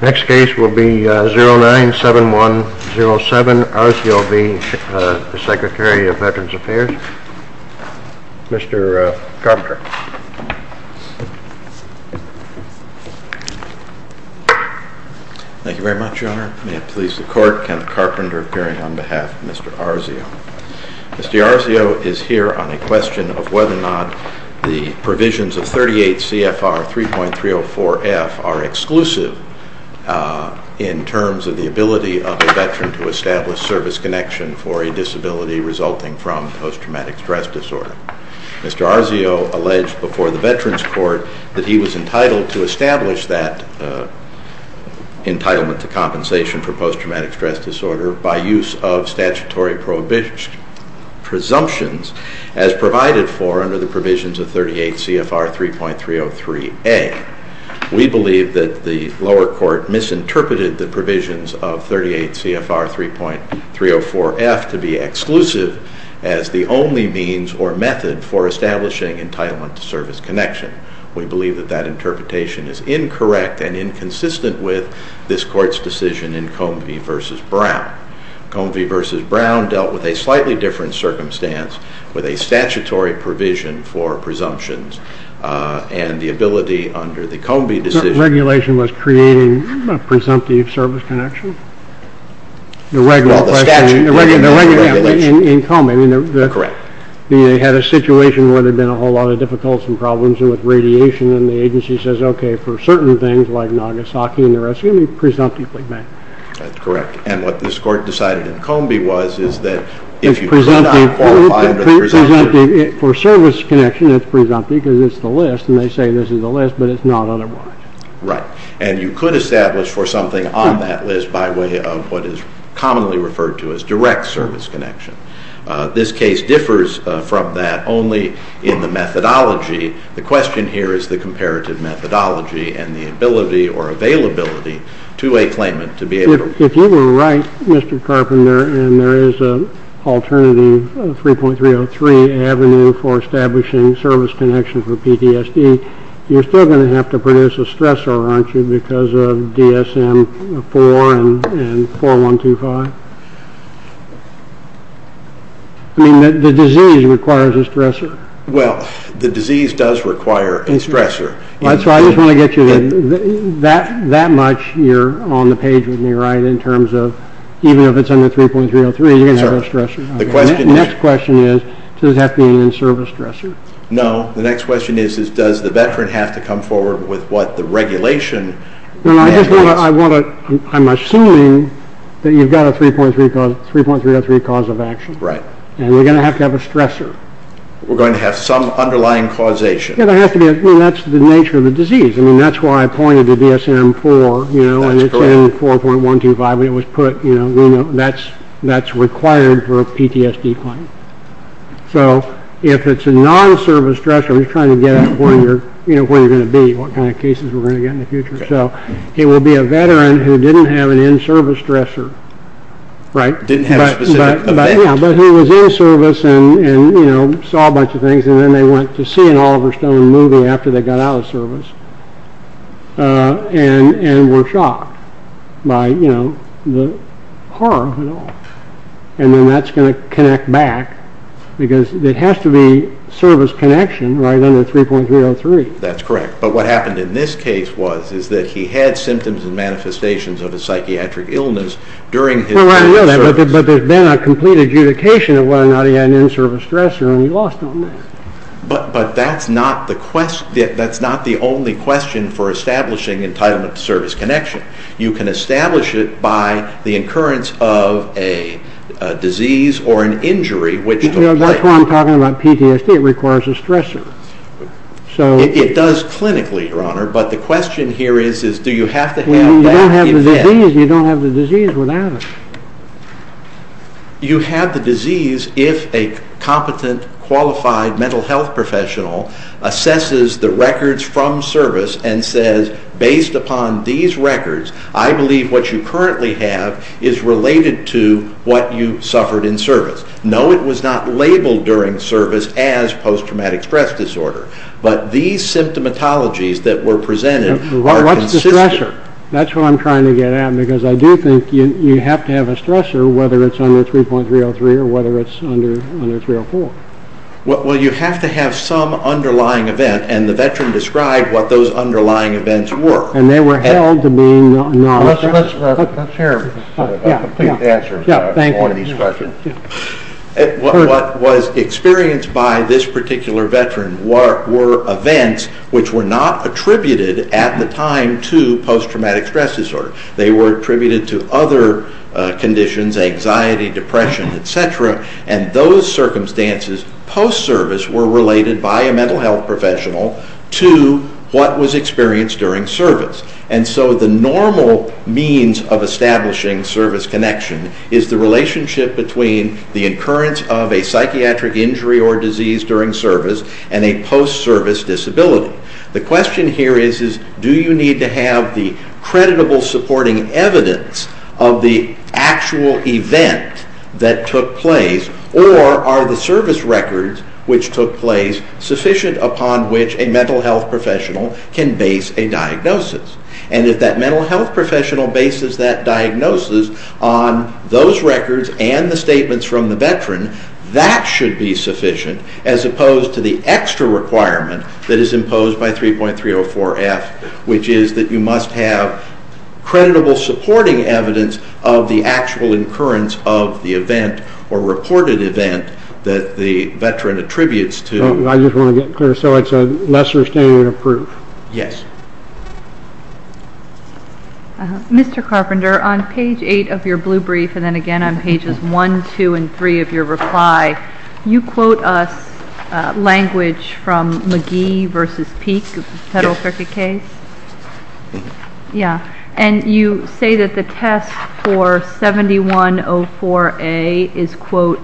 Next case will be 097107, Arzio v. Secretary of Veterans Affairs, Mr. Carpenter. Mr. Arzio is here on a question of whether or not the provisions of 38 CFR 3.304F are exclusive in terms of the ability of a veteran to establish service connection for a disability resulting from post-traumatic stress disorder. Mr. Arzio alleged before the Veterans Court that he was entitled to establish that entitlement to compensation for post-traumatic stress disorder by use of statutory presumptions as provided for under the provisions of 38 CFR 3.303A. We believe that the lower court misinterpreted the provisions of 38 CFR 3.304F to be exclusive as the only means or method for establishing entitlement to service connection. We believe that that interpretation is incorrect and inconsistent with this court's decision in Combie v. Brown. Combie v. Brown dealt with a slightly different circumstance with a statutory provision for presumptions and the ability under the Combie decision... Correct. They had a situation where there had been a whole lot of difficulties and problems with radiation and the agency says, okay, for certain things like Nagasaki and the rest of it, presumptively banned. That's correct. And what this court decided in Combie was, is that if you do not qualify under the presumption... For service connection, it's presumptive because it's the list and they say this is the list but it's not otherwise. Right. And you could establish for something on that list by way of what is commonly referred to as direct service connection. This case differs from that only in the methodology. The question here is the comparative methodology and the ability or availability to a claimant to be able to... If you were right, Mr. Carpenter, and there is an alternative 3.303 avenue for establishing service connection for PTSD, you're still going to have to produce a stressor, aren't you, because of DSM 4 and 4.125? I mean, the disease requires a stressor. Well, the disease does require a stressor. That's why I just want to get you... That much, you're on the page with me, right, in terms of even if it's under 3.303, you're going to have a stressor. The question is... The next question is, does that mean in-service stressor? No. The next question is, does the veteran have to come forward with what the regulation... I'm assuming that you've got a 3.303 cause of action, and we're going to have to have a stressor. We're going to have some underlying causation. That's the nature of the disease. That's why I pointed to DSM 4 and 4.125, when it was put, that's required for a PTSD claim. So if it's a non-service stressor, I'm just trying to get at where you're going to be, what kind of cases we're going to get in the future. It would be a veteran who didn't have an in-service stressor, right? Didn't have a specific event. Yeah, but he was in-service and saw a bunch of things, and then they went to see an Oliver Stone movie after they got out of service, and were shocked by the horror of it all. And then that's going to connect back, because it has to be service connection right under 3.303. That's correct. But what happened in this case was, is that he had symptoms and manifestations of a psychiatric illness during his in-service. Well, I know that, but there's been a complete adjudication of whether or not he had an in-service stressor, and he lost on that. But that's not the only question for establishing entitlement-to-service connection. You can establish it by the occurrence of a disease or an injury which took place. You know, that's why I'm talking about PTSD, it requires a stressor. It does clinically, Your Honor, but the question here is, is do you have to have that event? Well, you don't have the disease without it. You have the disease if a competent, qualified mental health professional assesses the records from service and says, based upon these records, I believe what you currently have is related to what you suffered in service. No, it was not labeled during service as post-traumatic stress disorder. But these symptomatologies that were presented are consistent. What's the stressor? That's what I'm trying to get at, because I do think you have to have a stressor, whether it's under 3.303 or whether it's under 3.304. Well, you have to have some underlying event, and the veteran described what those underlying events were. And they were held to mean non-stressors. Let's hear a complete answer to one of these questions. What was experienced by this particular veteran were events which were not attributed at the time to post-traumatic stress disorder. They were attributed to other conditions, anxiety, depression, et cetera, and those circumstances post-service were related by a mental health professional to what was experienced during service. And so the normal means of establishing service connection is the relationship between the occurrence of a psychiatric injury or disease during service and a post-service disability. The question here is, do you need to have the creditable supporting evidence of the actual event that took place, or are the service records which took place sufficient upon which a mental health professional can base a diagnosis? And if that mental health professional bases that diagnosis on those records and the statements from the veteran, that should be sufficient as opposed to the extra requirement that is imposed by 3.304F, which is that you must have creditable supporting evidence of the actual occurrence of the event or reported event that the veteran attributes to. I just want to get clear. So it's a lesser standard of proof? Yes. Mr. Carpenter, on page 8 of your blue brief and then again on pages 1, 2, and 3 of your reply, you quote us language from McGee v. Peek, the federal circuit case. Yes. Yeah. And you say that the test for 7104A is, quote,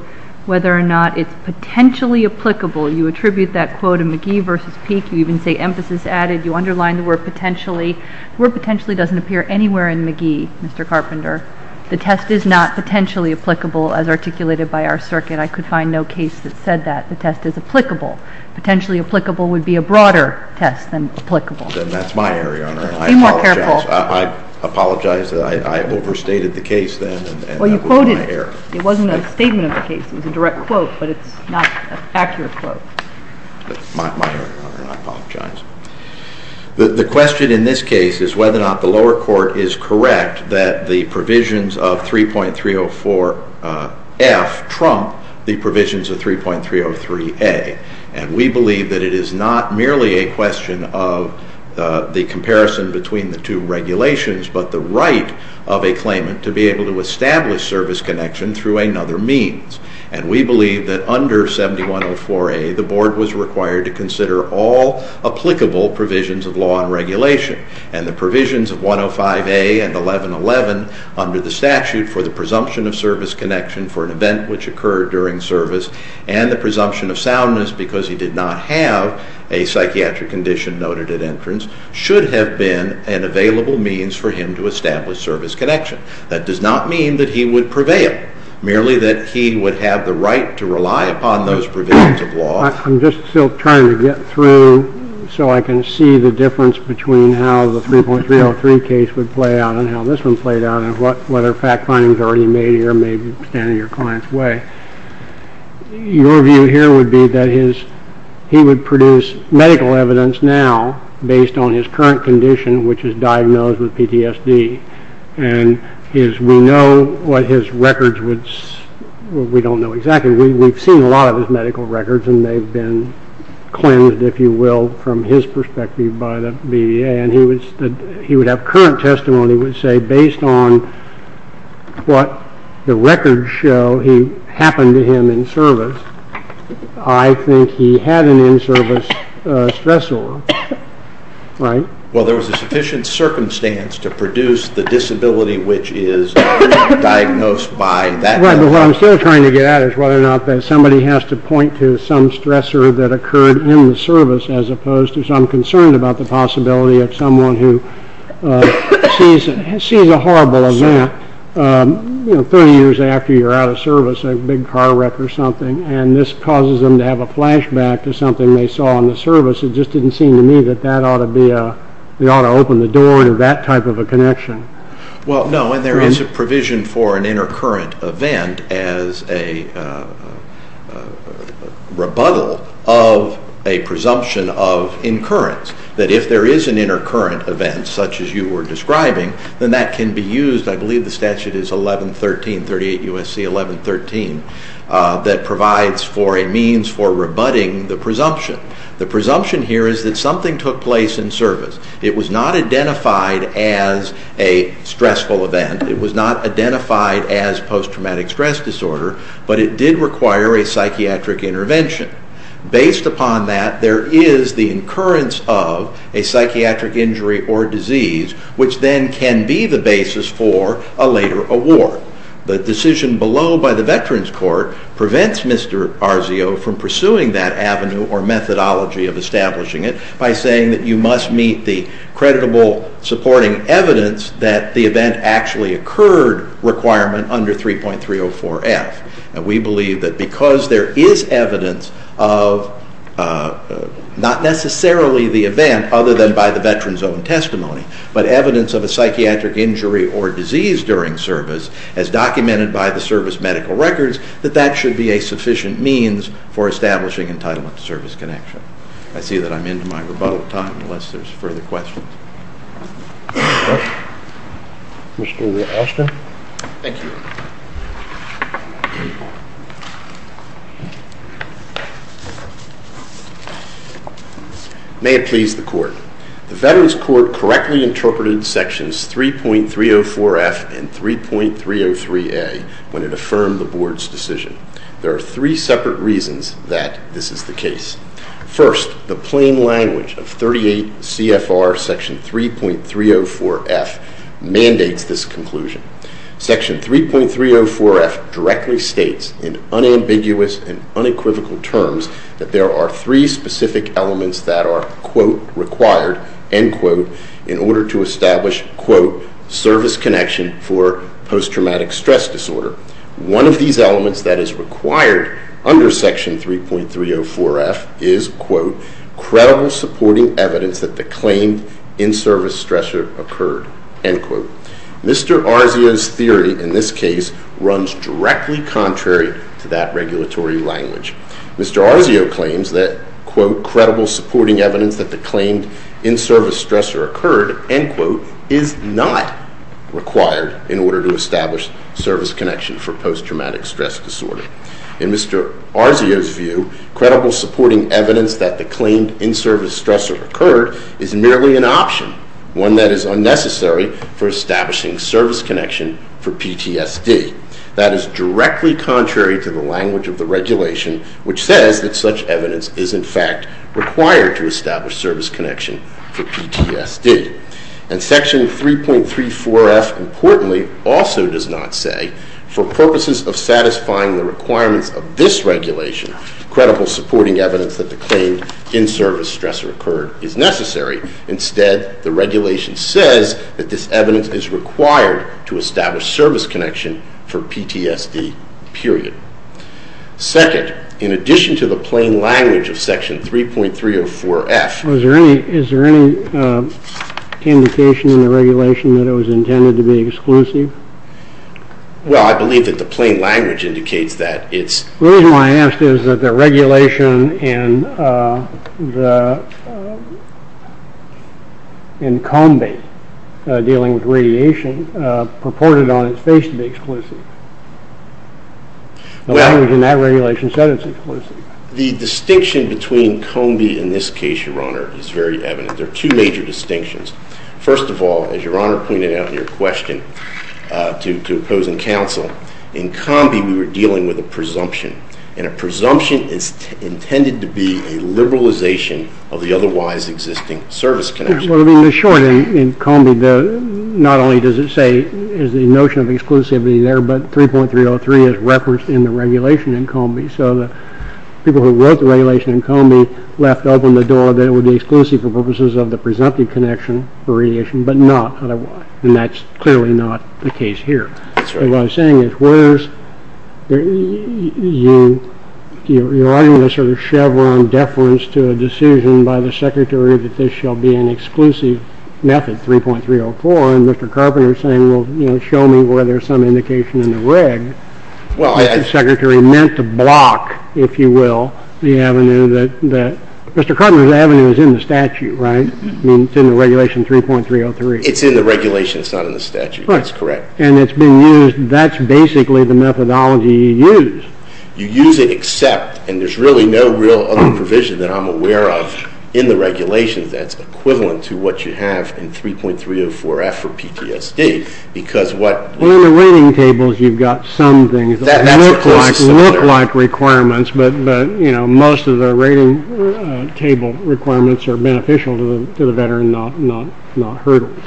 whether or not it's potentially applicable. You attribute that quote in McGee v. Peek. You even say emphasis added. You underline the word potentially. The word potentially doesn't appear anywhere in McGee, Mr. Carpenter. The test is not potentially applicable as articulated by our circuit. I could find no case that said that. The test is applicable. Potentially applicable would be a broader test than applicable. Then that's my error, Your Honor. Be more careful. I apologize. I overstated the case then, and that was my error. Well, you quoted it. It wasn't a statement of the case. It was a direct quote, but it's not an accurate quote. My error, Your Honor, and I apologize. The question in this case is whether or not the lower court is correct that the provisions of 3.304F trump the provisions of 3.303A, and we believe that it is not merely a question of the comparison between the two regulations but the right of a claimant to be able to establish service connection through another means. And we believe that under 7104A, the board was required to consider all applicable provisions of law and regulation. And the provisions of 105A and 1111 under the statute for the presumption of service connection for an event which occurred during service and the presumption of soundness because he did not have a psychiatric condition noted at entrance should have been an available means for him to establish service connection. That does not mean that he would prevail. Merely that he would have the right to rely upon those provisions of law. I'm just still trying to get through so I can see the difference between how the 3.303 case would play out and how this one played out and whether fact findings are already made here may stand in your client's way. Your view here would be that he would produce medical evidence now based on his current condition which is diagnosed with PTSD. And we know what his records would, we don't know exactly. We've seen a lot of his medical records and they've been cleansed if you will from his perspective by the BDA. And he would have current testimony which would say based on what the records show happened to him in service, I think he had an in-service stressor, right? Well there was a sufficient circumstance to produce the disability which is diagnosed by that. Right, but what I'm still trying to get at is whether or not somebody has to point to some stressor that occurred in the service as opposed to, so I'm concerned about the possibility of someone who sees a horrible event 30 years after you're out of service, a big car wreck or something, and this causes them to have a flashback to something they saw in the service. It just didn't seem to me that that ought to open the door to that type of a connection. Well no, and there is a provision for an inter-current event as a rebuttal of a presumption of incurrence. That if there is an inter-current event such as you were describing, then that can be used, I believe the statute is 1113, 38 U.S.C. 1113, that provides for a means for rebutting the presumption. The presumption here is that something took place in service. It was not identified as a stressful event. It was not identified as post-traumatic stress disorder, but it did require a psychiatric intervention. Based upon that, there is the incurrence of a psychiatric injury or disease which then can be the basis for a later award. The decision below by the Veterans Court prevents Mr. Arzio from pursuing that avenue or methodology of establishing it by saying that you must meet the creditable supporting evidence that the event actually occurred requirement under 3.304F. We believe that because there is evidence of not necessarily the event other than by the veteran's own testimony, but evidence of a psychiatric injury or disease during service as documented by the service medical records, that that should be a sufficient means for establishing entitlement to service connection. I see that I'm into my rebuttal time unless there's further questions. Mr. Austin. Thank you. May it please the Court. The Veterans Court correctly interpreted sections 3.304F and 3.303A when it affirmed the Board's decision. There are three separate reasons that this is the case. First, the plain language of 38 CFR Section 3.304F mandates this conclusion. Section 3.304F directly states in unambiguous and unequivocal terms that there are three specific elements that are quote, required, end quote, in order to establish, quote, service connection for post-traumatic stress disorder. One of these elements that is required under Section 3.304F is, quote, credible supporting evidence that the claimed in-service stressor occurred, end quote. Mr. Arzio's theory in this case runs directly contrary to that regulatory language. Mr. Arzio claims that, quote, credible supporting evidence that the claimed in-service stressor occurred, end quote, is not required in order to establish service connection for post-traumatic stress disorder. In Mr. Arzio's view, credible supporting evidence that the claimed in-service stressor occurred is merely an option, one that is unnecessary for establishing service connection for PTSD. That is directly contrary to the language of the regulation which says that such evidence is, in fact, required to establish service connection for PTSD. And Section 3.304F, importantly, also does not say, for purposes of satisfying the requirements of this regulation, credible supporting evidence that the claimed in-service stressor occurred is necessary. Instead, the regulation says that this evidence is required to establish service connection for PTSD, period. Second, in addition to the plain language of Section 3.304F... Is there any indication in the regulation that it was intended to be exclusive? Well, I believe that the plain language indicates that it's... The reason why I asked is that the regulation in COMBI, dealing with radiation, purported on its face to be exclusive. The language in that regulation said it's exclusive. The distinction between COMBI in this case, Your Honor, is very evident. There are two major distinctions. First of all, as Your Honor pointed out in your question to opposing counsel, in COMBI we were dealing with a presumption. And a presumption is intended to be a liberalization of the otherwise existing service connection. In short, in COMBI, not only does it say there's a notion of exclusivity there, but 3.303 is referenced in the regulation in COMBI. So the people who wrote the regulation in COMBI left open the door that it would be exclusive for purposes of the presumptive connection for radiation, but not otherwise. And that's clearly not the case here. That's right. What I'm saying is, whereas you're writing a sort of Chevron deference to a decision by the Secretary that this shall be an exclusive method, 3.304, and Mr. Carpenter's saying, well, you know, show me where there's some indication in the reg, the Secretary meant to block, if you will, the avenue that... Mr. Carpenter's avenue is in the statute, right? I mean, it's in the regulation 3.303. It's in the regulation. It's not in the statute. That's correct. And it's being used. That's basically the methodology you use. You use it except, and there's really no real other provision that I'm aware of in the regulations that's equivalent to what you have in 3.304F for PTSD, because what... Well, in the rating tables, you've got some things that look like requirements, but, you know, most of the rating table requirements are beneficial to the veteran, not hurdles.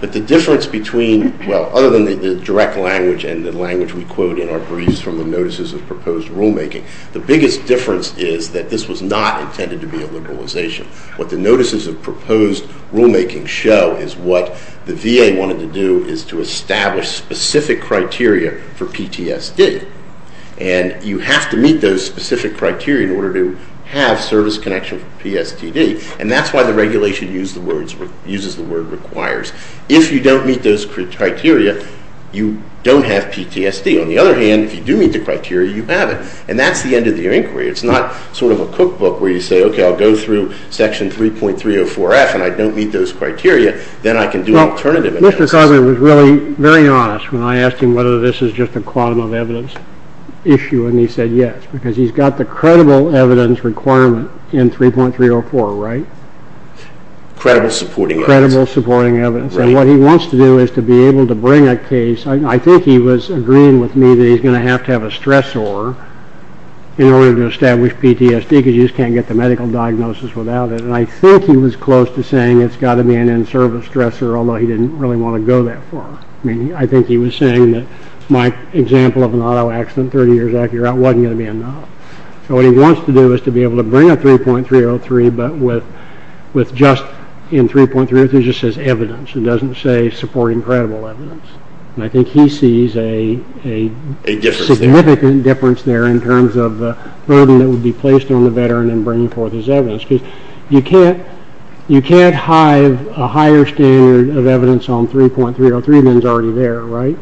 But the difference between, well, other than the direct language and the language we quote in our briefs from the notices of proposed rulemaking, the biggest difference is that this was not intended to be a liberalization. What the notices of proposed rulemaking show is what the VA wanted to do is to establish specific criteria for PTSD, and you have to meet those specific criteria in order to have service connection for PSTD, and that's why the regulation uses the word requires. If you don't meet those criteria, you don't have PTSD. On the other hand, if you do meet the criteria, you have it, and that's the end of your inquiry. It's not sort of a cookbook where you say, okay, I'll go through Section 3.304F and I don't meet those criteria, then I can do an alternative analysis. Well, Mr. Cogman was really very honest when I asked him whether this is just a quantum of evidence issue, because he's got the credible evidence requirement in 3.304, right? Credible supporting evidence. And what he wants to do is to be able to bring a case. I think he was agreeing with me that he's going to have to have a stressor in order to establish PTSD because you just can't get the medical diagnosis without it, and I think he was close to saying it's got to be an in-service stressor, although he didn't really want to go that far. I mean, I think he was saying that my example of an auto accident 30 years after you're out wasn't going to be enough. So what he wants to do is to be able to bring a 3.303 but with just in 3.303 it just says evidence and doesn't say supporting credible evidence. And I think he sees a significant difference there in terms of the burden that would be placed on the veteran in bringing forth his evidence. Because you can't hive a higher standard of evidence on 3.303 when it's already there, right?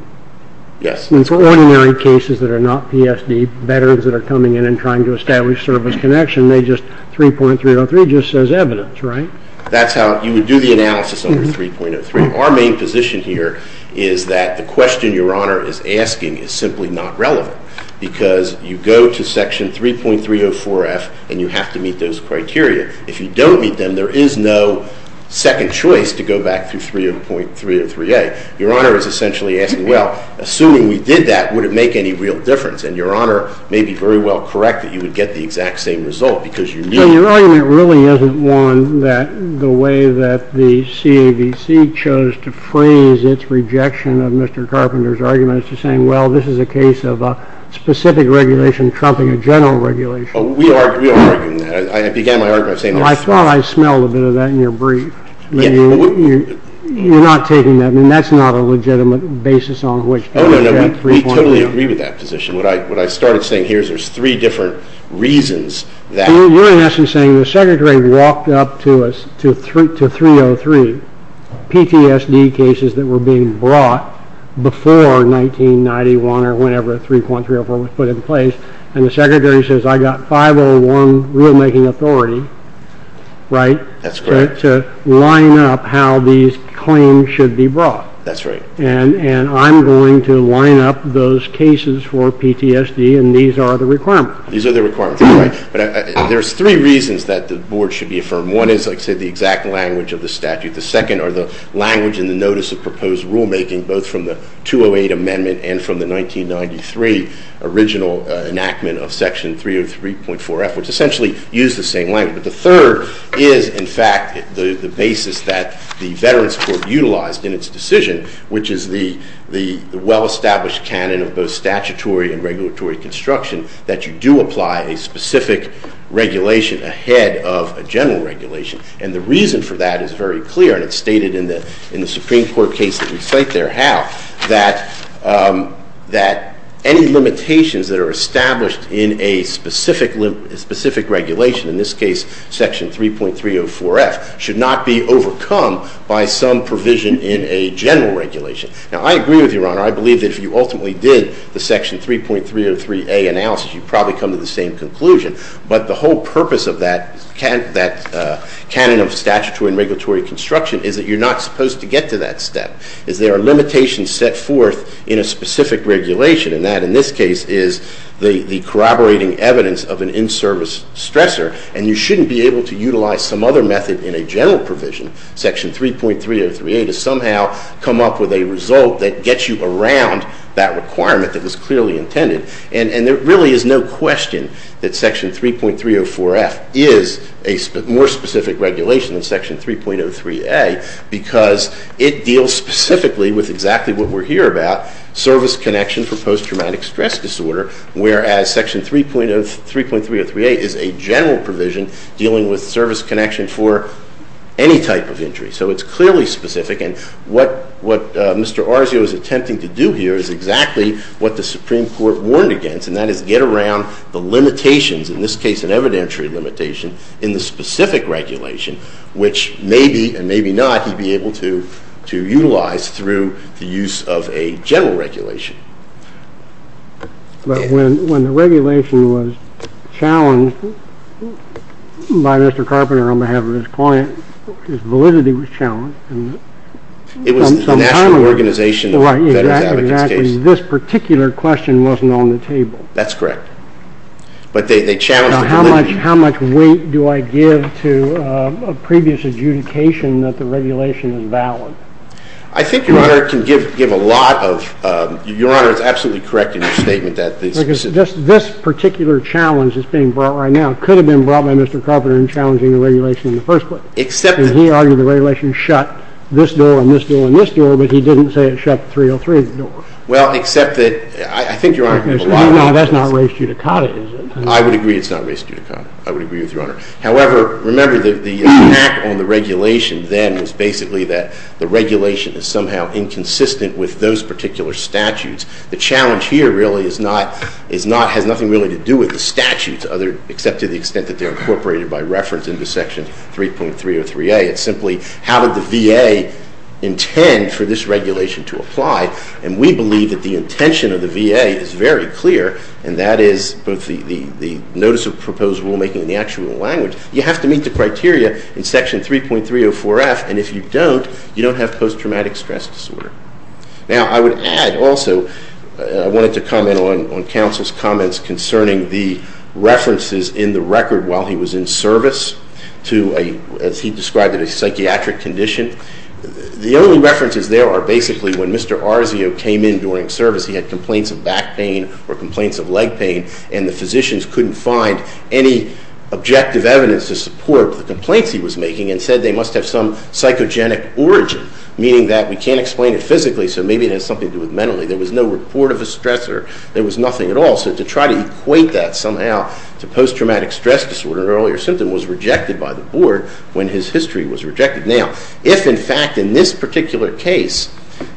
In ordinary cases that are not PSD, veterans that are coming in and trying to establish service connection, 3.303 just says evidence, right? That's how you would do the analysis over 3.03. Our main position here is that the question Your Honor is asking is simply not relevant because you go to Section 3.304F and you have to meet those criteria. If you don't meet them, there is no second choice to go back to 3.303A. Your Honor is essentially asking, well, assuming we did that, would it make any real difference? And Your Honor may be very well correct that you would get the exact same result because you need it. Your argument really isn't one that the way that the CAVC chose to phrase its rejection of Mr. Carpenter's argument is to say, well, this is a case of a specific regulation trumping a general regulation. We are arguing that. I began my argument by saying that. I thought I smelled a bit of that in your brief. You're not taking that. That's not a legitimate basis on which to reach that 3.0. We totally agree with that position. What I started saying here is there's three different reasons You're in essence saying the Secretary walked up to 303 PTSD cases that were being brought before 1991 or whenever 3.304 was put in place and the Secretary says I've got 501 rulemaking authority to line up how these claims should be brought. That's right. those cases for PTSD and these are the requirements. These are the requirements. There's three reasons that the board should be affirmed. One is, like I said, the exact language of the statute. The second are the language and the notice of proposed rulemaking both from the 208 amendment and from the 1993 original enactment of section 303.4F which essentially used the same language. The third is, in fact, the basis that the Veterans Court utilized in its decision which is the well-established canon of both statutory and regulatory construction that you do apply a specific regulation ahead of a general regulation and the reason for that is very clear and it's stated in the Supreme Court case that we cite there how that any limitations that are established in a specific regulation in this case section 3.304F should not be overcome by some provision in a general regulation. Now I agree with you, Your Honor. I believe that if you ultimately did the section 3.303A analysis you probably come to the same conclusion but the whole purpose of that canon of statutory and regulatory construction is that you're not supposed to get to that step. Is there a limitation set forth in a specific regulation and that in this case is the corroborating evidence of an in-service stressor and you shouldn't be able to utilize some other method in a general provision section 3.303A to somehow come up with a result that gets you around that requirement that was clearly intended and there really is no question that section 3.304F is a more specific regulation than section 3.03A because it deals specifically with exactly what we're here about service connection for post-traumatic stress disorder whereas section 3.303A is a general provision dealing with service connection for any type of injury so it's clearly specific and what Mr. Arzio is attempting to do here is exactly what the Supreme Court warned against and that is get around the limitations in this case an evidentiary limitation in the specific regulation which maybe and maybe not he'd be able to to utilize through the use of a general regulation. But when when the regulation by Mr. Carpenter on behalf of his client his validity was challenged and it was the National Organization of Veterans Advocates case this particular question wasn't on the table that's correct but they challenged the validity how much weight do I give to a previous adjudication that the regulation is valid I think your honor can give a lot of your honor is absolutely correct in your statement that this this particular challenge is being brought right now could have been brought by Mr. Carpenter in challenging the regulation in the first place except that he argued the regulation shut this door and this door and this door but he didn't say it shut 303 door well except that I think your honor that's not race judicata is it I would agree it's not race judicata I would agree with your honor however remember that the impact on the regulation then was basically that the regulation is somehow inconsistent with those particular statutes the challenge here really is not is not has nothing really to do with the statutes other except to the extent that they're incorporated by reference into section 3.303a it's simply how did the VA intend for this regulation to apply and we believe that the intention of the VA is very clear and that is both the notice of proposed rule making and the actual language you have to meet the criteria in section 3.304f and if you don't you don't have post-traumatic stress disorder now I would add also I wanted to comment on counsel's comments concerning the references in the record while he was in service to a as he described a psychiatric condition the only references there are basically when Mr. Arzio came in during service he had complaints of back pain or complaints of leg pain and the physicians couldn't find any objective evidence to support the complaints he was making and said they must have some psychogenic origin meaning that we can't explain it physically so maybe it has something to do with mentally there was no report of a stress or there was nothing at all so to try to equate that somehow to post-traumatic stress disorder an earlier symptom was rejected by the board when his history was rejected now if in fact in this particular case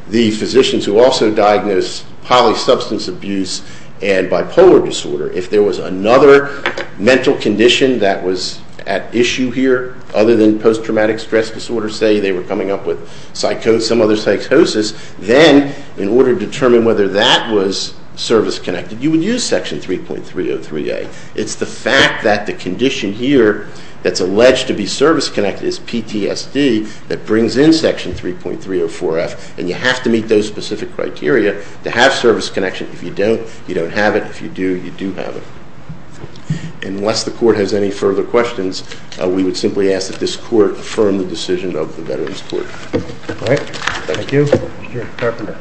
the physicians who also diagnosed polysubstance abuse and bipolar disorder if there was another mental condition that was at issue here other than post-traumatic stress disorder say they were coming up with psychosis some other psychosis then in order to determine whether that was service connected you would use section 3.303A it's the fact that the condition here that's alleged to be service connected is PTSD that brings in section 3.304F and you have to meet those specific criteria to have service connection if you don't you don't have it if you do you do have it unless the court has any further questions we would simply ask that this court affirm the decision of the veterans court alright thank you Mr. Interpreter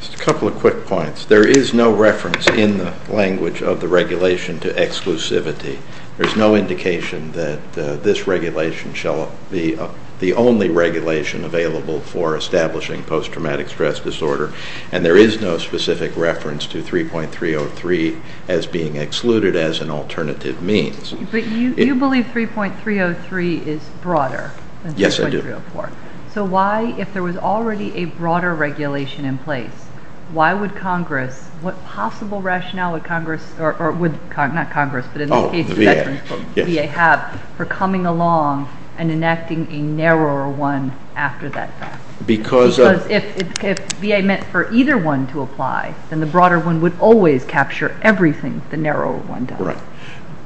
just a couple of quick points there is no reference in the language of the regulation to exclusivity there is no indication that this regulation shall be the only regulation available for establishing PTSD and there is no specific reference to 3.303 as being excluded as an alternative means but you believe 3.303 is broader than 3.304 so why if there was already a broader regulation in place why would congress what possible rationale would congress or would not congress but in the case of veterans the VA have for coming along and enacting a narrower one after that time because if VA meant for either one to apply then the broader one would always capture everything the narrow one does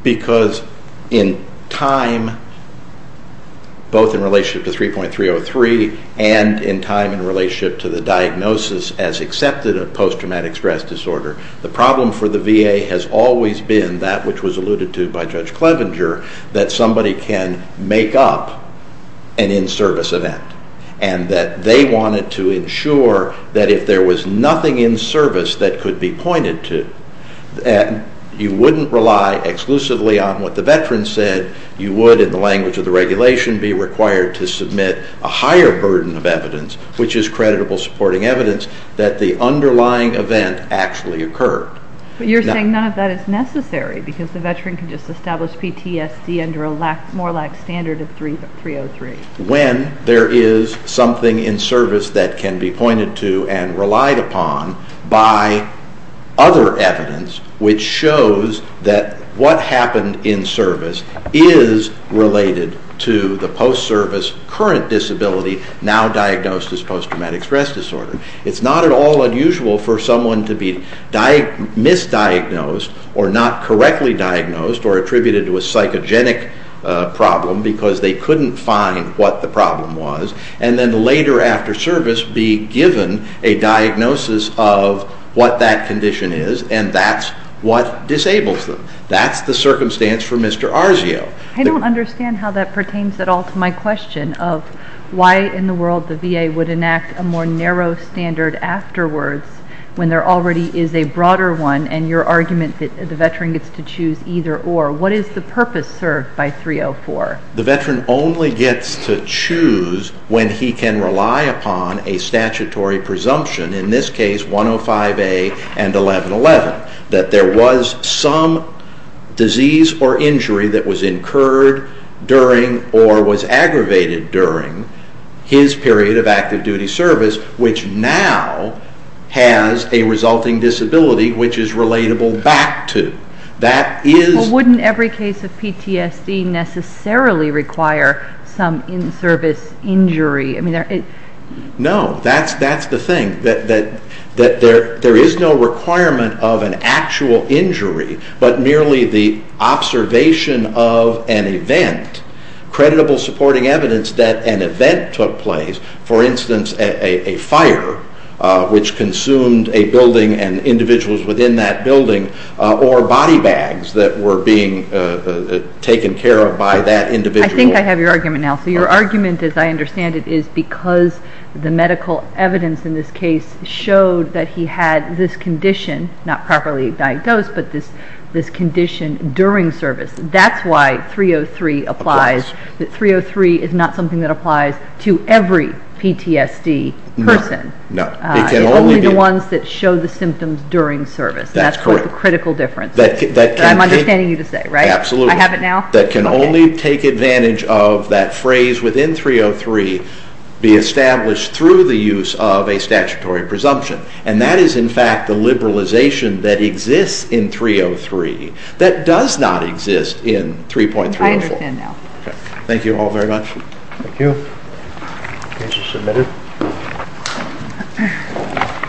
because in time both in relationship to 3.303 and in time in relationship to the diagnosis as accepted of post traumatic stress disorder the problem for the veterans there is something in service that could be pointed to and you wouldn't rely exclusively on what the veterans said you would in the language of the regulation be required to submit a higher burden of evidence which is creditable supporting evidence that the underlying event actually occurred you're saying none of that is necessary because the veteran can establish PTSD under a more lax standard of 303 when there is something in service that can be pointed to and relied upon by other evidence which shows that what happened in service is related to the problem because they couldn't find what the problem was and then later after service be given a diagnosis of what that condition is and that's what disables them that's the circumstance for Mr. Arzio. I don't understand how that pertains at all to my question of why in the world the VA would enact a more narrow standard afterwards when there already is a broader one and your argument that veteran gets to choose either or what is the purpose served by 304? The veteran only gets to choose when he can because he now has a resulting disability which is relatable back to. That is Well wouldn't every case of PTSD necessarily require some in service injury? No that's the thing that there is no requirement of an actual injury but merely the observation of an event creditable supporting evidence that an event took place for instance a fire which consumed a person and the medical evidence in this case showed that he had this condition not properly diagnosed but this condition during service that's why 303 applies to every PTSD person only the ones that show the symptoms during service that's the critical difference I have it now that can only take advantage of that phrase within 303 be established through the use of a phrase within